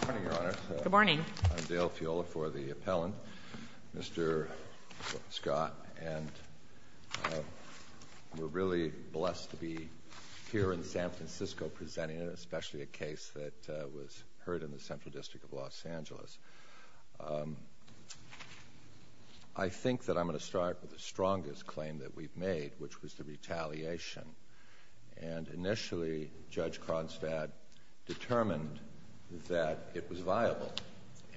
Good morning, Your Honor. Good morning. I'm Dale Fiola for the appellant, Mr. Scott, and we're really blessed to be here in San Francisco presenting, especially a case that was heard in the Central District of Los Angeles. I think that I'm going to start with the strongest claim that we've made, which was the retaliation. And initially, Judge Kronstadt determined that it was viable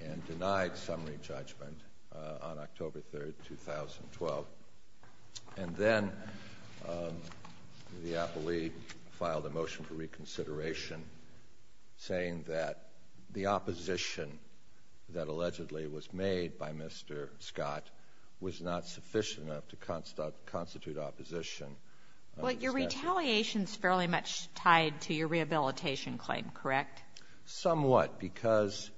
and denied summary judgment on October 3, 2012. And then the appellee filed a motion for reconsideration saying that the opposition that allegedly was made by Mr. Scott was not sufficient enough to constitute opposition. Well, your retaliation is fairly much tied to your rehabilitation claim, correct? Somewhat, because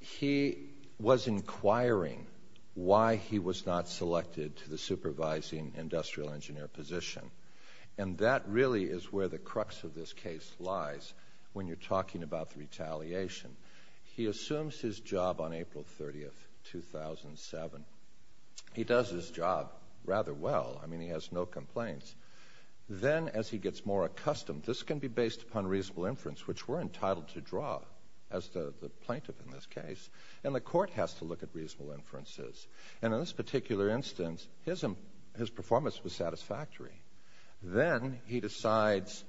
he was inquiring why he was not selected to the supervising industrial engineer position. And that really is where the crux of this case lies when you're talking about the retaliation. He assumes his job on April 30, 2007. He does his job rather well. I mean, he has no complaints. Then, as he gets more accustomed, this can be based upon reasonable inference, which we're entitled to draw as the plaintiff in this case, and the court has to look at reasonable inferences. And in this particular instance, his performance was satisfactory. Then he decides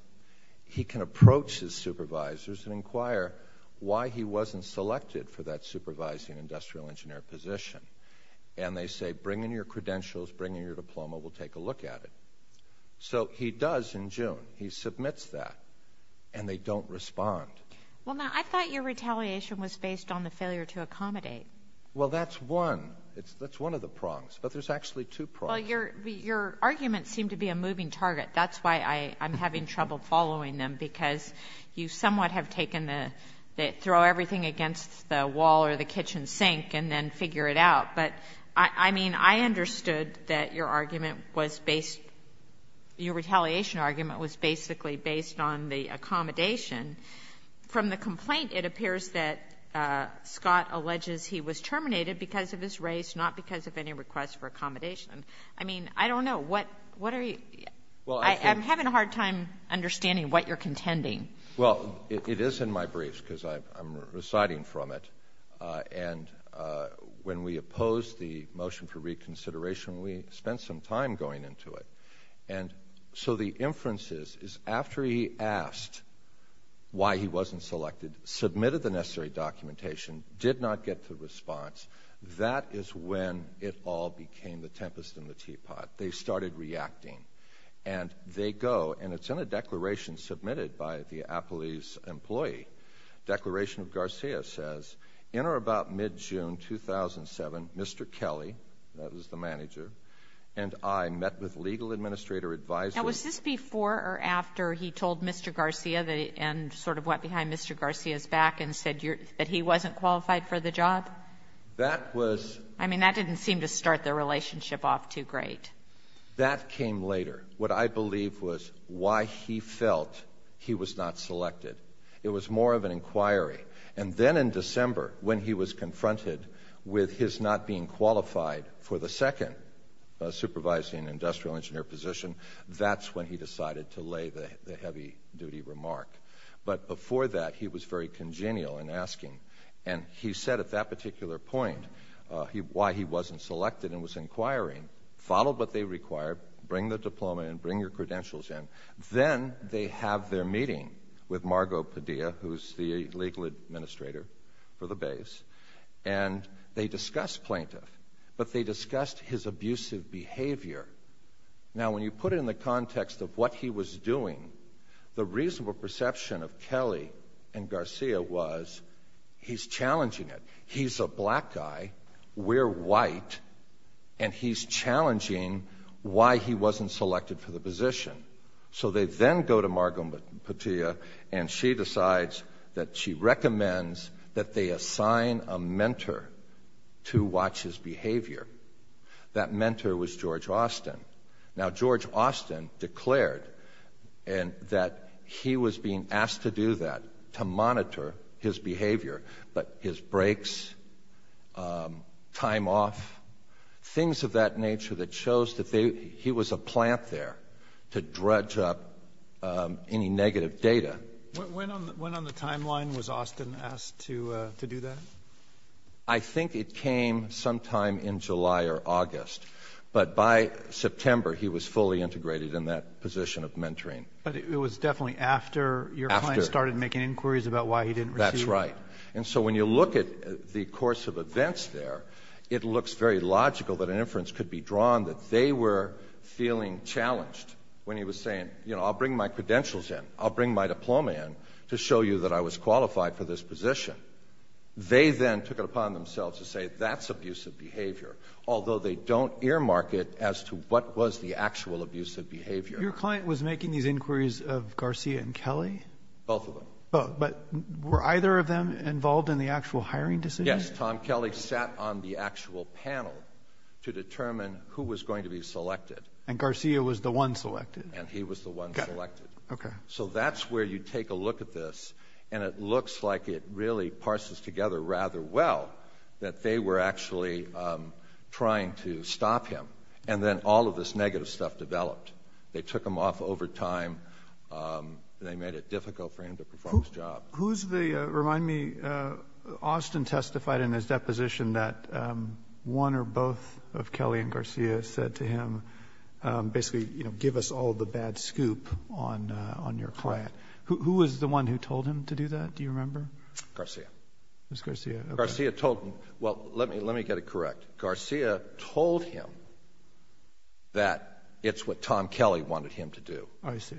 he can approach his supervisors and inquire why he wasn't selected for that supervising industrial engineer position. And they say, bring in your credentials, bring in your diploma, we'll take a look at it. So he does in June. He submits that. And they don't respond. Well, now, I thought your retaliation was based on the failure to accommodate. Well, that's one. That's one of the prongs. But there's actually two prongs. Well, your arguments seem to be a moving target. That's why I'm having trouble following them, because you somewhat have taken the throw everything against the wall or the kitchen sink and then figure it out. But, I mean, I understood that your argument was based, your retaliation argument was basically based on the accommodation. From the complaint, it appears that Scott alleges he was terminated because of his race, not because of any request for accommodation. I mean, I don't know. What are you – I'm having a hard time understanding what you're contending. Well, it is in my briefs, because I'm reciting from it. And when we opposed the motion for reconsideration, we spent some time going into it. And so the inference is, is after he asked why he wasn't selected, submitted the necessary documentation, did not get the response, that is when it all became the tempest in the teapot. They started reacting. And they go, and it's in a declaration submitted by the Apolis employee. Declaration of Garcia says, in or about mid-June 2007, Mr. Kelly, that was the manager, and I met with legal administrator advisers. Now, was this before or after he told Mr. Garcia and sort of went behind Mr. Garcia's back and said that he wasn't qualified for the job? That was – I mean, that didn't seem to start the relationship off too great. That came later. What I believe was why he felt he was not selected. It was more of an inquiry. And then in December, when he was confronted with his not being qualified for the second supervising industrial engineer position, that's when he decided to lay the heavy-duty remark. But before that, he was very congenial in asking. And he said at that particular point why he wasn't selected and was inquiring. Follow what they require. Bring the diploma and bring your credentials in. Then they have their meeting with Margot Padilla, who's the legal administrator for the base. And they discuss plaintiff, but they discussed his abusive behavior. Now, when you put it in the context of what he was doing, the reasonable perception of Kelly and Garcia was he's challenging it. He's a black guy. We're white. And he's challenging why he wasn't selected for the position. So they then go to Margot Padilla, and she decides that she recommends that they assign a mentor to watch his behavior. That mentor was George Austin. Now, George Austin declared that he was being asked to do that, to monitor his behavior. But his breaks, time off, things of that nature that shows that he was a plant there to dredge up any negative data. When on the timeline was Austin asked to do that? I think it came sometime in July or August. But by September, he was fully integrated in that position of mentoring. But it was definitely after your client started making inquiries about why he didn't receive it? That's right. And so when you look at the course of events there, it looks very logical that an inference could be drawn that they were feeling challenged when he was saying, you know, I'll bring my credentials in. I'll bring my diploma in to show you that I was qualified for this position. They then took it upon themselves to say that's abusive behavior, although they don't earmark it as to what was the actual abusive behavior. Your client was making these inquiries of Garcia and Kelly? Both of them. But were either of them involved in the actual hiring decision? Yes. Tom Kelly sat on the actual panel to determine who was going to be selected. And Garcia was the one selected. And he was the one selected. Okay. So that's where you take a look at this, and it looks like it really parses together rather well that they were actually trying to stop him. And then all of this negative stuff developed. They took him off over time. They made it difficult for him to perform his job. Remind me, Austin testified in his deposition that one or both of Kelly and Garcia said to him, basically, you know, give us all the bad scoop on your client. Correct. Who was the one who told him to do that? Do you remember? Garcia. It was Garcia. Garcia told him. Well, let me get it correct. Garcia told him that it's what Tom Kelly wanted him to do. I see.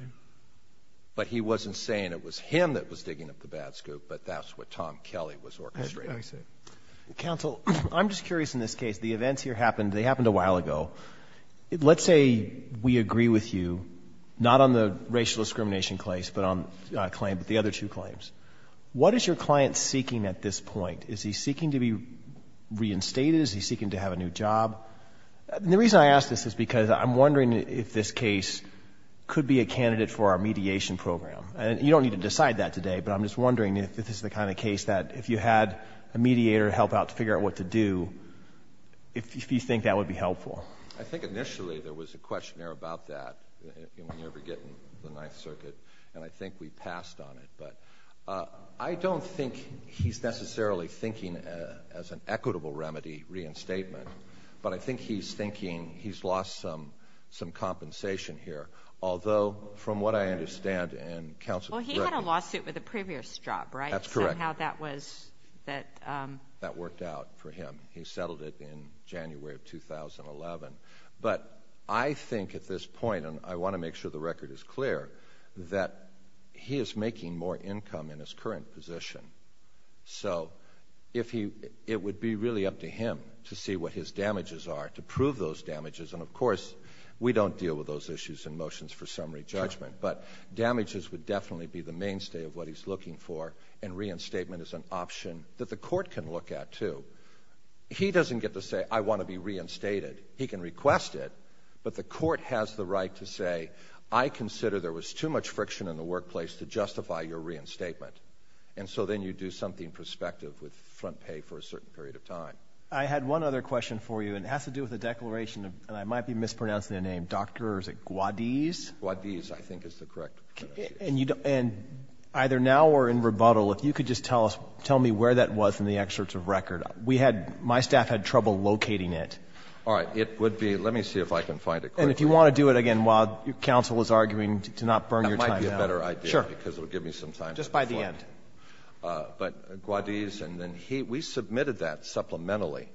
But he wasn't saying it was him that was digging up the bad scoop, but that's what Tom Kelly was orchestrating. I see. Counsel, I'm just curious in this case. The events here happened. They happened a while ago. Let's say we agree with you, not on the racial discrimination claim, but the other two claims. What is your client seeking at this point? Is he seeking to be reinstated? Is he seeking to have a new job? The reason I ask this is because I'm wondering if this case could be a candidate for our mediation program. You don't need to decide that today, but I'm just wondering if this is the kind of case that if you had a mediator help out to figure out what to do, if you think that would be helpful. I think initially there was a questionnaire about that when you were getting the Ninth Circuit, and I think we passed on it. I don't think he's necessarily thinking as an equitable remedy reinstatement, but I think he's thinking he's lost some compensation here. Although, from what I understand, and counsel, correct me. Well, he had a lawsuit with a previous job, right? That's correct. Somehow that worked out for him. He settled it in January of 2011. But I think at this point, and I want to make sure the record is clear, that he is making more income in his current position. So it would be really up to him to see what his damages are to prove those damages. And, of course, we don't deal with those issues in motions for summary judgment. But damages would definitely be the mainstay of what he's looking for, and reinstatement is an option that the court can look at, too. He doesn't get to say, I want to be reinstated. He can request it, but the court has the right to say, I consider there was too much friction in the workplace to justify your reinstatement. And so then you do something prospective with front pay for a certain period of time. I had one other question for you, and it has to do with the declaration of, and I might be mispronouncing the name, Dr. Guadiz? Guadiz, I think, is the correct pronunciation. And either now or in rebuttal, if you could just tell me where that was in the excerpts of record. My staff had trouble locating it. All right. It would be, let me see if I can find it quickly. And if you want to do it again while counsel is arguing to not burn your time down. That might be a better idea. Sure. Because it would give me some time to reflect. Just by the end. But Guadiz, and then he, we submitted that supplementally.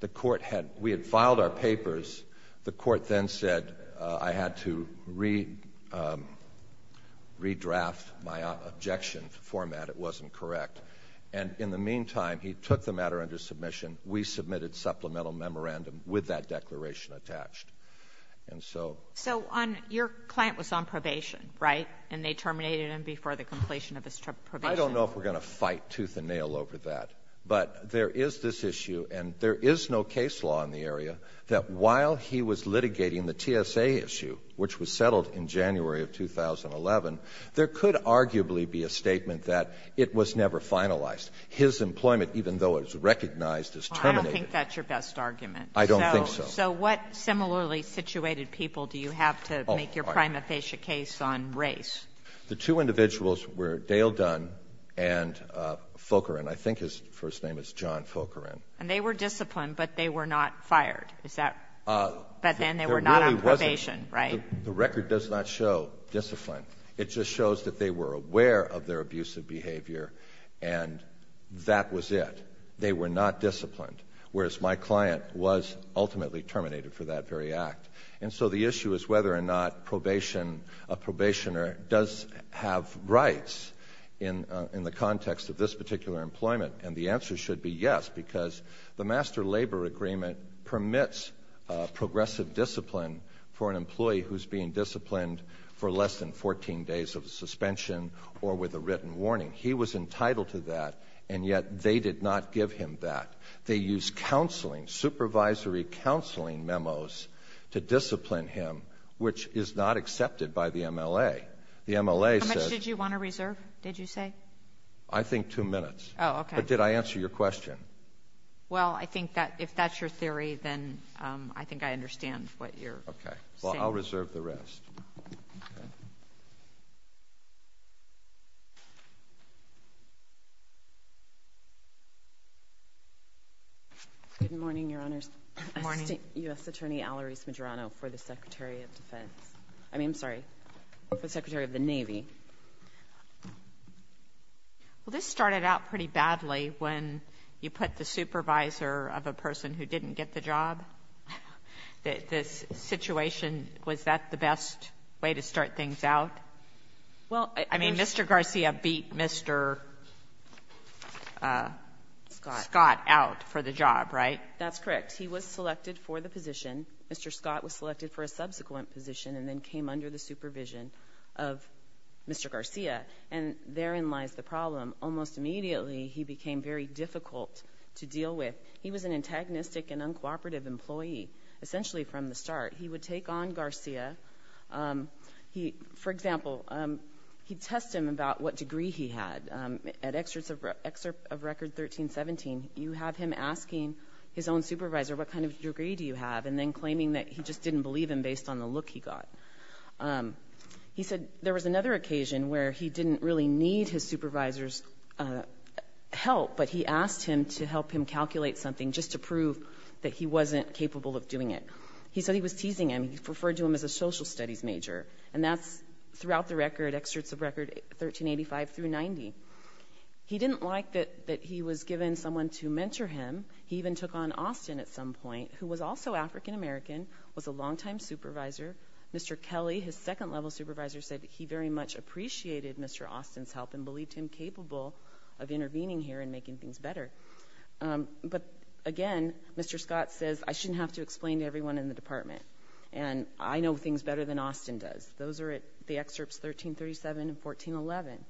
The court had, we had filed our papers. The court then said I had to redraft my objection format. It wasn't correct. And in the meantime, he took the matter under submission. We submitted supplemental memorandum with that declaration attached. And so. So your client was on probation, right? And they terminated him before the completion of his probation. I don't know if we're going to fight tooth and nail over that. But there is this issue, and there is no case law in the area, that while he was litigating the TSA issue, which was settled in January of 2011, there could arguably be a statement that it was never finalized. His employment, even though it was recognized, is terminated. I don't think that's your best argument. I don't think so. So what similarly situated people do you have to make your prima facie case on race? The two individuals were Dale Dunn and Fulkerin. I think his first name is John Fulkerin. And they were disciplined, but they were not fired. Is that? But then they were not on probation, right? There really wasn't. The record does not show discipline. It just shows that they were aware of their abusive behavior, and that was it. They were not disciplined, whereas my client was ultimately terminated for that very act. And so the issue is whether or not a probationer does have rights in the context of this particular employment. And the answer should be yes, because the Master Labor Agreement permits progressive discipline for an employee who's being disciplined for less than 14 days of suspension or with a written warning. He was entitled to that, and yet they did not give him that. They used counseling, supervisory counseling memos, to discipline him, which is not accepted by the MLA. The MLA says- How much did you want to reserve, did you say? I think two minutes. Oh, okay. But did I answer your question? Well, I think that if that's your theory, then I think I understand what you're saying. Okay, well, I'll reserve the rest. Good morning, Your Honors. Good morning. U.S. Attorney Alarice Medrano for the Secretary of Defense. Well, this started out pretty badly when you put the supervisor of a person who didn't get the job. This situation, was that the best way to start things out? Well- I mean, Mr. Garcia beat Mr. Scott out for the job, right? That's correct. He was selected for the position. Mr. Scott was selected for a subsequent position and then came under the supervision of Mr. Garcia. And therein lies the problem. Almost immediately, he became very difficult to deal with. He was an antagonistic and uncooperative employee, essentially from the start. He would take on Garcia. For example, he'd test him about what degree he had. At excerpts of record 1317, you have him asking his own supervisor, what kind of degree do you have? And then claiming that he just didn't believe him based on the look he got. He said there was another occasion where he didn't really need his supervisor's help, but he asked him to help him calculate something just to prove that he wasn't capable of doing it. He said he was teasing him. He referred to him as a social studies major. And that's throughout the record, excerpts of record 1385 through 90. He didn't like that he was given someone to mentor him. He even took on Austin at some point, who was also African American, was a longtime supervisor. Mr. Kelly, his second-level supervisor, said he very much appreciated Mr. Austin's help and believed him capable of intervening here and making things better. But again, Mr. Scott says, I shouldn't have to explain to everyone in the department. And I know things better than Austin does. Those are the excerpts 1337 and 1411.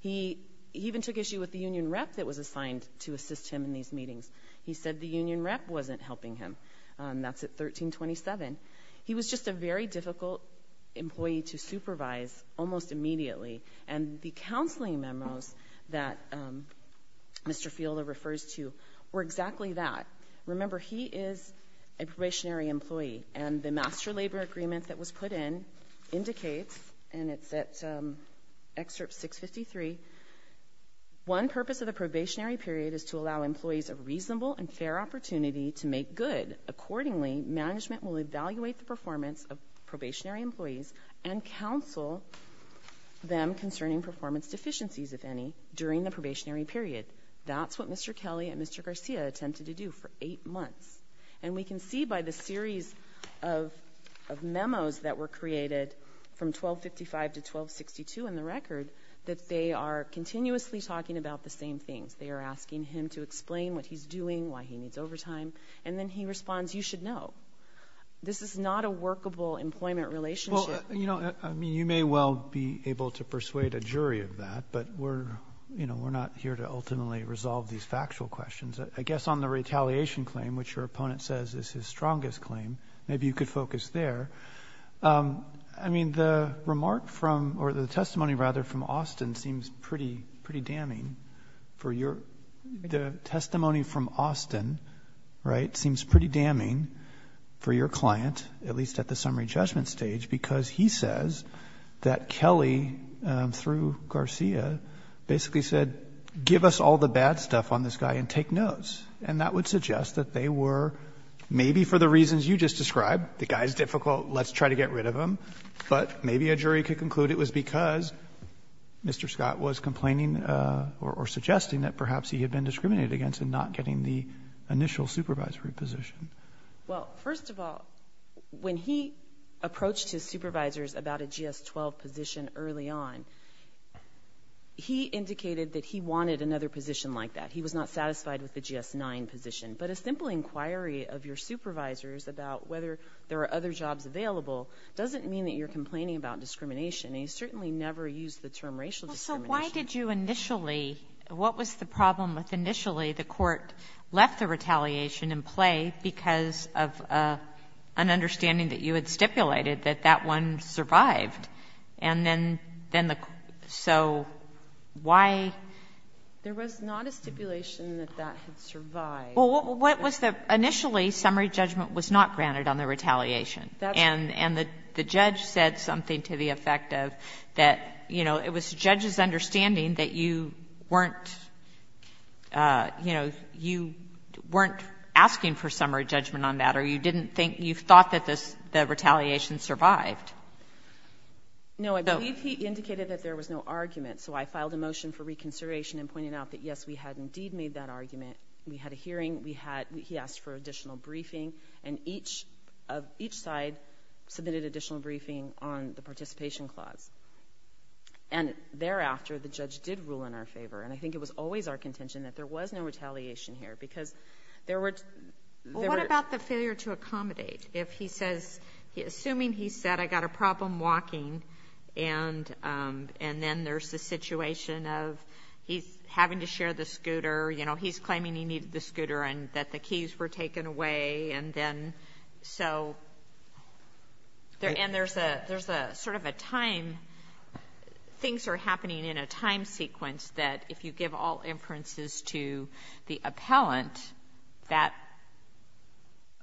He even took issue with the union rep that was assigned to assist him in these meetings. He said the union rep wasn't helping him. That's at 1327. He was just a very difficult employee to supervise almost immediately. And the counseling memos that Mr. Fielder refers to were exactly that. Remember, he is a probationary employee. And the master labor agreement that was put in indicates, and it's at excerpt 653, one purpose of the probationary period is to allow employees a reasonable and fair opportunity to make good. Accordingly, management will evaluate the performance of probationary employees and counsel them concerning performance deficiencies, if any, during the probationary period. That's what Mr. Kelly and Mr. Garcia attempted to do for eight months. And we can see by the series of memos that were created from 1255 to 1262 in the record that they are continuously talking about the same things. They are asking him to explain what he's doing, why he needs overtime. And then he responds, you should know. This is not a workable employment relationship. Well, you know, you may well be able to persuade a jury of that, but we're not here to ultimately resolve these factual questions. I guess on the retaliation claim, which your opponent says is his strongest claim, maybe you could focus there. I mean, the remark from, or the testimony rather, from Austin seems pretty damning. The testimony from Austin, right, seems pretty damning for your client, at least at the summary judgment stage, because he says that Kelly, through Garcia, basically said, give us all the bad stuff on this guy and take notes. And that would suggest that they were maybe for the reasons you just described, the guy's difficult, let's try to get rid of him. But maybe a jury could conclude it was because Mr. Scott was complaining or suggesting that perhaps he had been discriminated against and not getting the initial supervisory position. Well, first of all, when he approached his supervisors about a GS-12 position early on, he indicated that he wanted another position like that. He was not satisfied with the GS-9 position. But a simple inquiry of your supervisors about whether there are other jobs available doesn't mean that you're complaining about discrimination. He certainly never used the term racial discrimination. So why did you initially, what was the problem with initially the court left the retaliation in play because of an understanding that you had stipulated that that one survived? And then the court, so why? There was not a stipulation that that had survived. Well, what was the, initially summary judgment was not granted on the retaliation. That's right. So there was a misunderstanding that you weren't, you know, you weren't asking for summary judgment on that or you didn't think, you thought that the retaliation survived. No, I believe he indicated that there was no argument. So I filed a motion for reconsideration and pointed out that, yes, we had indeed made that argument. We had a hearing. We had, he asked for additional briefing. And each side submitted additional briefing on the participation clause. And thereafter, the judge did rule in our favor. And I think it was always our contention that there was no retaliation here because there were... Well, what about the failure to accommodate? If he says, assuming he said, I got a problem walking and then there's the situation of he's having to share the scooter, you know, he's claiming he needed the scooter and that the keys were taken away. And then, so, and there's a sort of a time, things are happening in a time sequence that if you give all inferences to the appellant, that,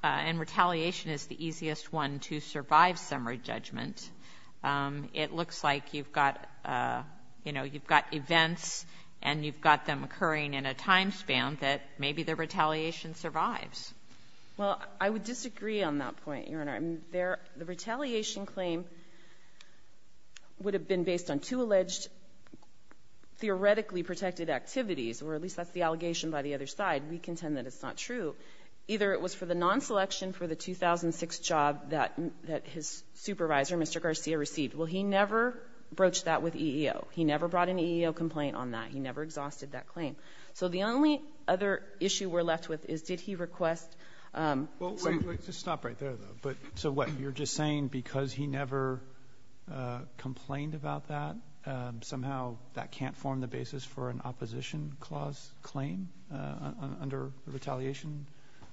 and retaliation is the easiest one to survive summary judgment. It looks like you've got, you know, you've got events and you've got them occurring in a time span that maybe the retaliation survives. Well, I would disagree on that point, Your Honor. The retaliation claim would have been based on two alleged theoretically protected activities, or at least that's the allegation by the other side. We contend that it's not true. Either it was for the non-selection for the 2006 job that his supervisor, Mr. Garcia, received. Well, he never broached that with EEO. He never brought an EEO complaint on that. He never exhausted that claim. So the only other issue we're left with is, did he request? Well, wait, wait, just stop right there, though. So what, you're just saying because he never complained about that, somehow that can't form the basis for an opposition clause claim under retaliation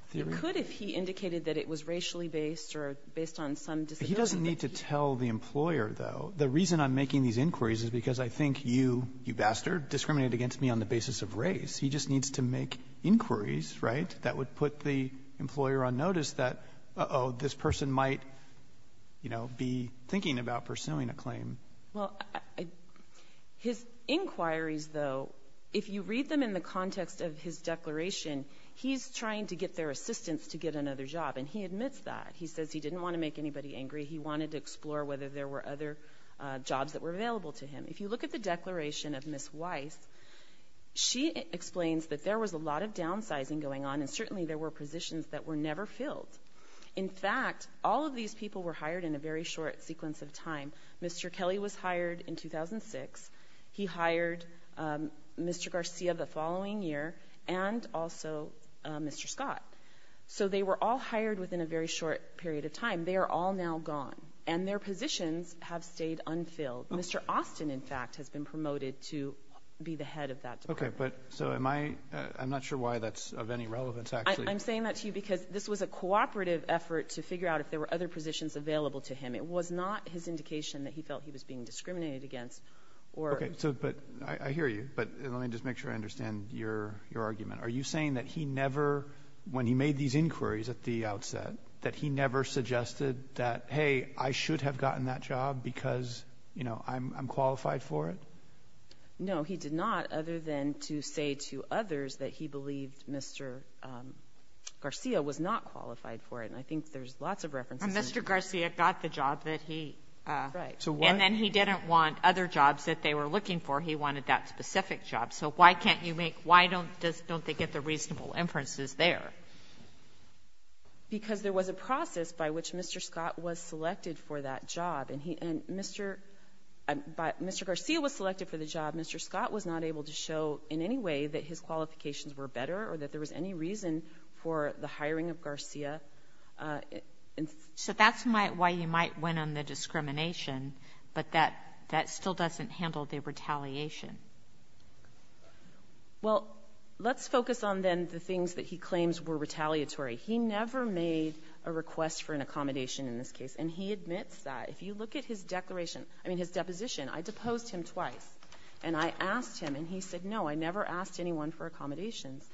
theory? It could if he indicated that it was racially based or based on some disability. He doesn't need to tell the employer, though. The reason I'm making these inquiries is because I think you, you bastard, discriminated against me on the basis of race. He just needs to make inquiries, right, that would put the employer on notice that, uh-oh, this person might, you know, be thinking about pursuing a claim. Well, his inquiries, though, if you read them in the context of his declaration, he's trying to get their assistance to get another job, and he admits that. He says he didn't want to make anybody angry. He wanted to explore whether there were other jobs that were available to him. If you look at the declaration of Ms. Weiss, she explains that there was a lot of downsizing going on and certainly there were positions that were never filled. In fact, all of these people were hired in a very short sequence of time. Mr. Kelly was hired in 2006. He hired Mr. Garcia the following year and also Mr. Scott. So they were all hired within a very short period of time. They are all now gone, and their positions have stayed unfilled. Mr. Austin, in fact, has been promoted to be the head of that department. Okay, so I'm not sure why that's of any relevance, actually. I'm saying that to you because this was a cooperative effort to figure out if there were other positions available to him. It was not his indication that he felt he was being discriminated against. Okay, so I hear you, but let me just make sure I understand your argument. Are you saying that he never, when he made these inquiries at the outset, that he never suggested that, hey, I should have gotten that job because, you know, I'm qualified for it? No, he did not, other than to say to others that he believed Mr. Garcia was not qualified for it, and I think there's lots of references. And Mr. Garcia got the job that he... Right. And then he didn't want other jobs that they were looking for. He wanted that specific job. So why can't you make, why don't they get the reasonable inferences there? Because there was a process by which Mr. Scott was selected for that job, and Mr. Garcia was selected for the job. Mr. Scott was not able to show in any way that his qualifications were better or that there was any reason for the hiring of Garcia. So that's why you might win on the discrimination, but that still doesn't handle the retaliation. Well, let's focus on then the things that he claims were retaliatory. He never made a request for an accommodation in this case, and he admits that. If you look at his deposition, I deposed him twice, and I asked him, and he said, no, I never asked anyone for accommodations.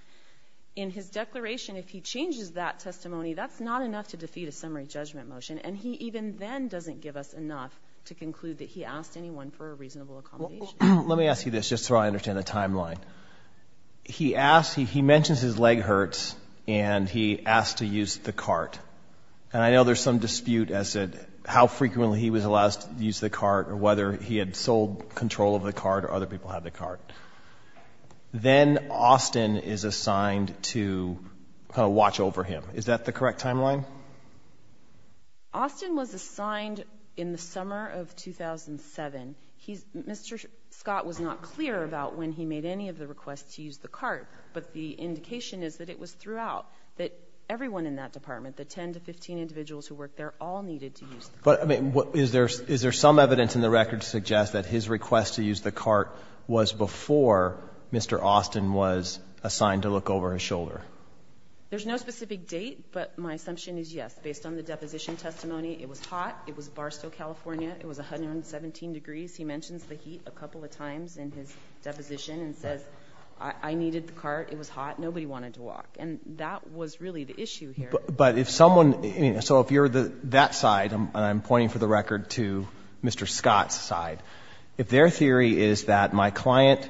In his declaration, if he changes that testimony, that's not enough to defeat a summary judgment motion, and he even then doesn't give us enough to conclude that he asked anyone for a reasonable accommodation. Let me ask you this, just so I understand the timeline. He mentioned his leg hurts, and he asked to use the cart. And I know there's some dispute as to how frequently he was allowed to use the cart or whether he had sole control of the cart or other people had the cart. Then Austin is assigned to kind of watch over him. Is that the correct timeline? Austin was assigned in the summer of 2007. Mr. Scott was not clear about when he made any of the requests to use the cart, but the indication is that it was throughout, that everyone in that department, the 10 to 15 individuals who worked there, all needed to use the cart. Is there some evidence in the record to suggest that his request to use the cart was before Mr. Austin was assigned to look over his shoulder? There's no specific date, but my assumption is yes. Based on the deposition testimony, it was hot, it was Barstow, California, it was 117 degrees. He mentions the heat a couple of times in his deposition and says I needed the cart, it was hot, nobody wanted to walk. And that was really the issue here. But if someone, so if you're that side, and I'm pointing for the record to Mr. Scott's side, if their theory is that my client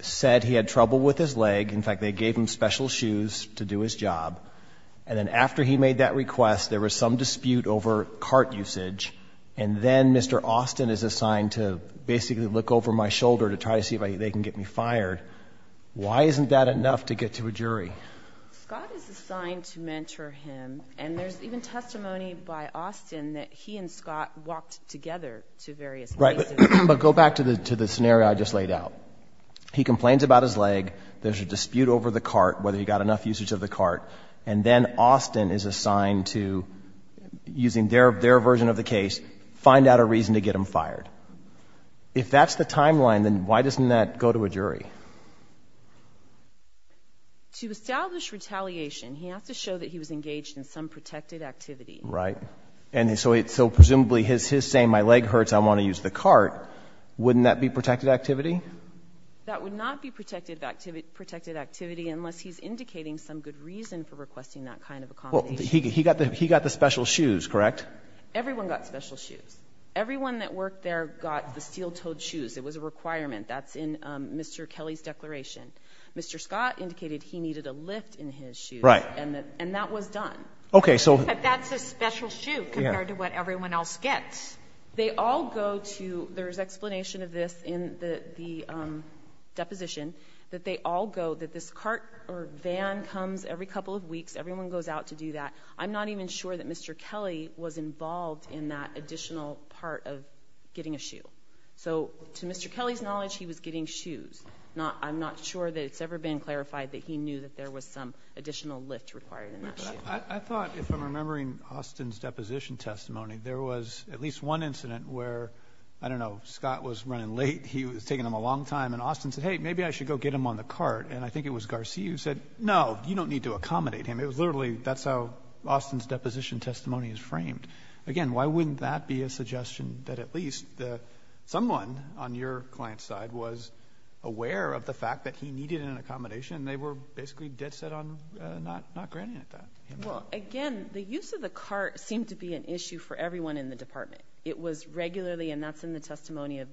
said he had trouble with his leg, in fact they gave him special shoes to do his job, and then after he made that request there was some dispute over cart usage, and then Mr. Austin is assigned to basically look over my shoulder to try to see if they can get me fired, why isn't that enough to get to a jury? Scott is assigned to mentor him, and there's even testimony by Austin that he and Scott walked together to various places. Right, but go back to the scenario I just laid out. He complains about his leg, there's a dispute over the cart, whether he got enough usage of the cart, and then Austin is assigned to, using their version of the case, find out a reason to get him fired. If that's the timeline, then why doesn't that go to a jury? To establish retaliation, he has to show that he was engaged in some protected activity. Right, and so presumably his saying my leg hurts, I want to use the cart, wouldn't that be protected activity? That would not be protected activity unless he's indicating some good reason for requesting that kind of accommodation. He got the special shoes, correct? Everyone got special shoes. Everyone that worked there got the steel-toed shoes. It was a requirement. That's in Mr. Kelly's declaration. Mr. Scott indicated he needed a lift in his shoes, and that was done. But that's a special shoe compared to what everyone else gets. They all go to, there's explanation of this in the deposition, that they all go, that this cart or van comes every couple of weeks, everyone goes out to do that. I'm not even sure that Mr. Kelly was involved in that additional part of getting a shoe. So to Mr. Kelly's knowledge, he was getting shoes. I'm not sure that it's ever been clarified that he knew that there was some additional lift required in that shoe. I thought, if I'm remembering Austin's deposition testimony, there was at least one incident where, I don't know, Scott was running late, he was taking him a long time, and Austin said, hey, maybe I should go get him on the cart. And I think it was Garcia who said, no, you don't need to accommodate him. It was literally, that's how Austin's deposition testimony is framed. Again, why wouldn't that be a suggestion that at least someone on your client's side was aware of the fact that he needed an accommodation, and they were basically dead set on not granting it to him? Well, again, the use of the cart seemed to be an issue for everyone in the department. It was regularly, and that's in the testimony of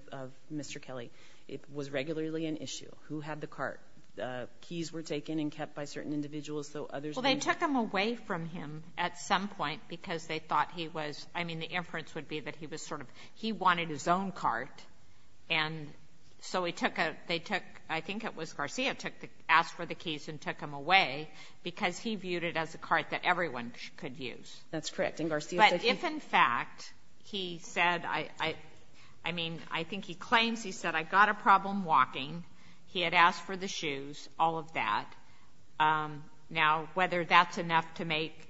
Mr. Kelly, it was regularly an issue. Who had the cart? Keys were taken and kept by certain individuals, though others didn't. Well, they took them away from him at some point because they thought he was, I mean, the inference would be that he was sort of, he wanted his own cart. And so he took a, they took, I think it was Garcia asked for the keys and took them away because he viewed it as a cart that everyone could use. That's correct. But if, in fact, he said, I mean, I think he claims he said, I've got a problem walking. He had asked for the shoes, all of that. Now, whether that's enough to make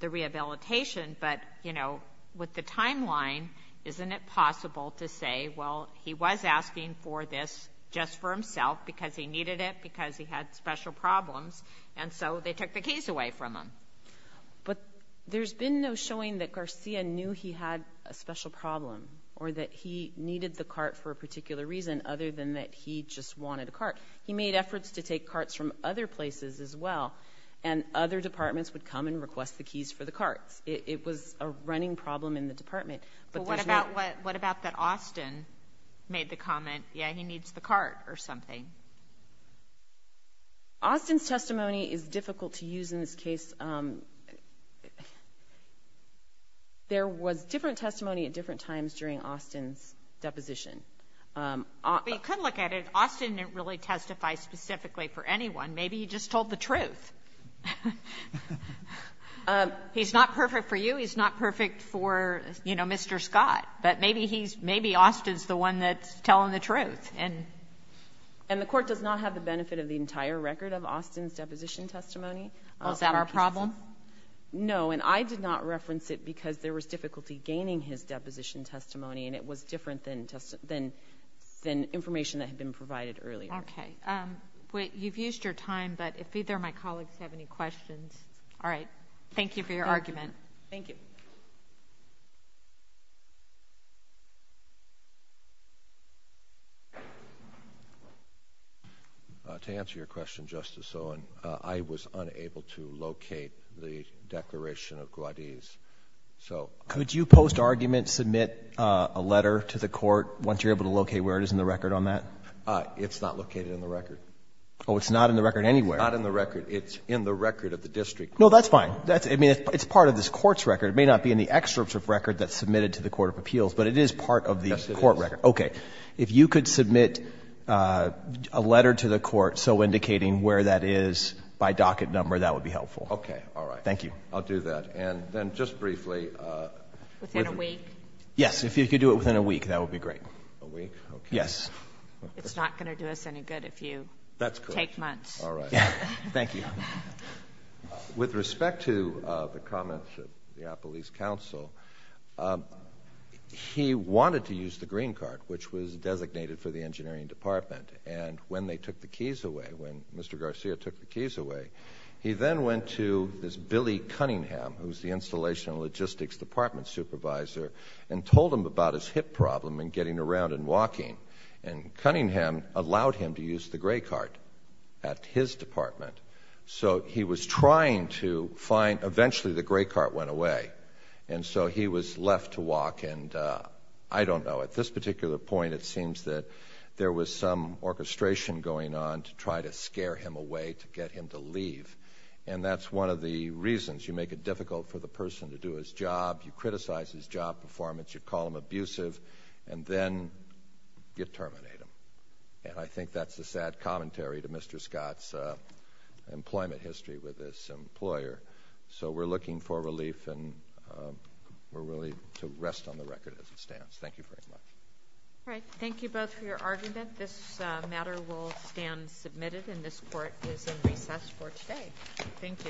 the rehabilitation, but, you know, with the timeline, isn't it possible to say, well, he was asking for this just for himself because he needed it, because he had special problems, and so they took the keys away from him? But there's been no showing that Garcia knew he had a special problem or that he needed the cart for a particular reason other than that he just wanted a cart. He made efforts to take carts from other places as well, and other departments would come and request the keys for the carts. It was a running problem in the department. But what about that Austin made the comment, yeah, he needs the cart or something? Austin's testimony is difficult to use in this case. There was different testimony at different times during Austin's deposition. You could look at it. Austin didn't really testify specifically for anyone. Maybe he just told the truth. He's not perfect for you. He's not perfect for, you know, Mr. Scott. But maybe Austin's the one that's telling the truth. And the court does not have the benefit of the entire record of Austin's deposition testimony. Is that our problem? No, and I did not reference it because there was difficulty gaining his deposition testimony, and it was different than information that had been provided earlier. Okay. You've used your time, but if either of my colleagues have any questions. All right. Thank you for your argument. Thank you. To answer your question, Justice Owen, I was unable to locate the declaration of Gwadis. Could you post-argument submit a letter to the court once you're able to locate where it is in the record on that? It's not located in the record. Oh, it's not in the record anywhere. It's not in the record. It's in the record of the district court. No, that's fine. I mean, it's part of this court's record. It may not be in the excerpt of record that's submitted to the Court of Appeals, but it is part of the court record. Yes, it is. Okay. If you could submit a letter to the court so indicating where that is by docket number, that would be helpful. Okay. All right. Thank you. I'll do that. And then just briefly. Within a week? Yes. If you could do it within a week, that would be great. Within a week? Okay. Yes. It's not going to do us any good if you take months. That's correct. All right. Thank you. With respect to the comments of the Appalachian Council, he wanted to use the green card, which was designated for the engineering department. And when they took the keys away, when Mr. Garcia took the keys away, he then went to this Billy Cunningham, who's the installation and logistics department supervisor, and told him about his hip problem and getting around and walking. And Cunningham allowed him to use the gray card at his department. So he was trying to find – eventually the gray card went away. And so he was left to walk, and I don't know. At this particular point, it seems that there was some orchestration going on to try to scare him away, to get him to leave. And that's one of the reasons. You make it difficult for the person to do his job. You criticize his job performance. You call him abusive. And then you terminate him. And I think that's a sad commentary to Mr. Scott's employment history with this employer. So we're looking for relief, and we're willing to rest on the record as it stands. Thank you very much. All right. Thank you both for your argument. This matter will stand submitted, and this court is in recess for today. Thank you.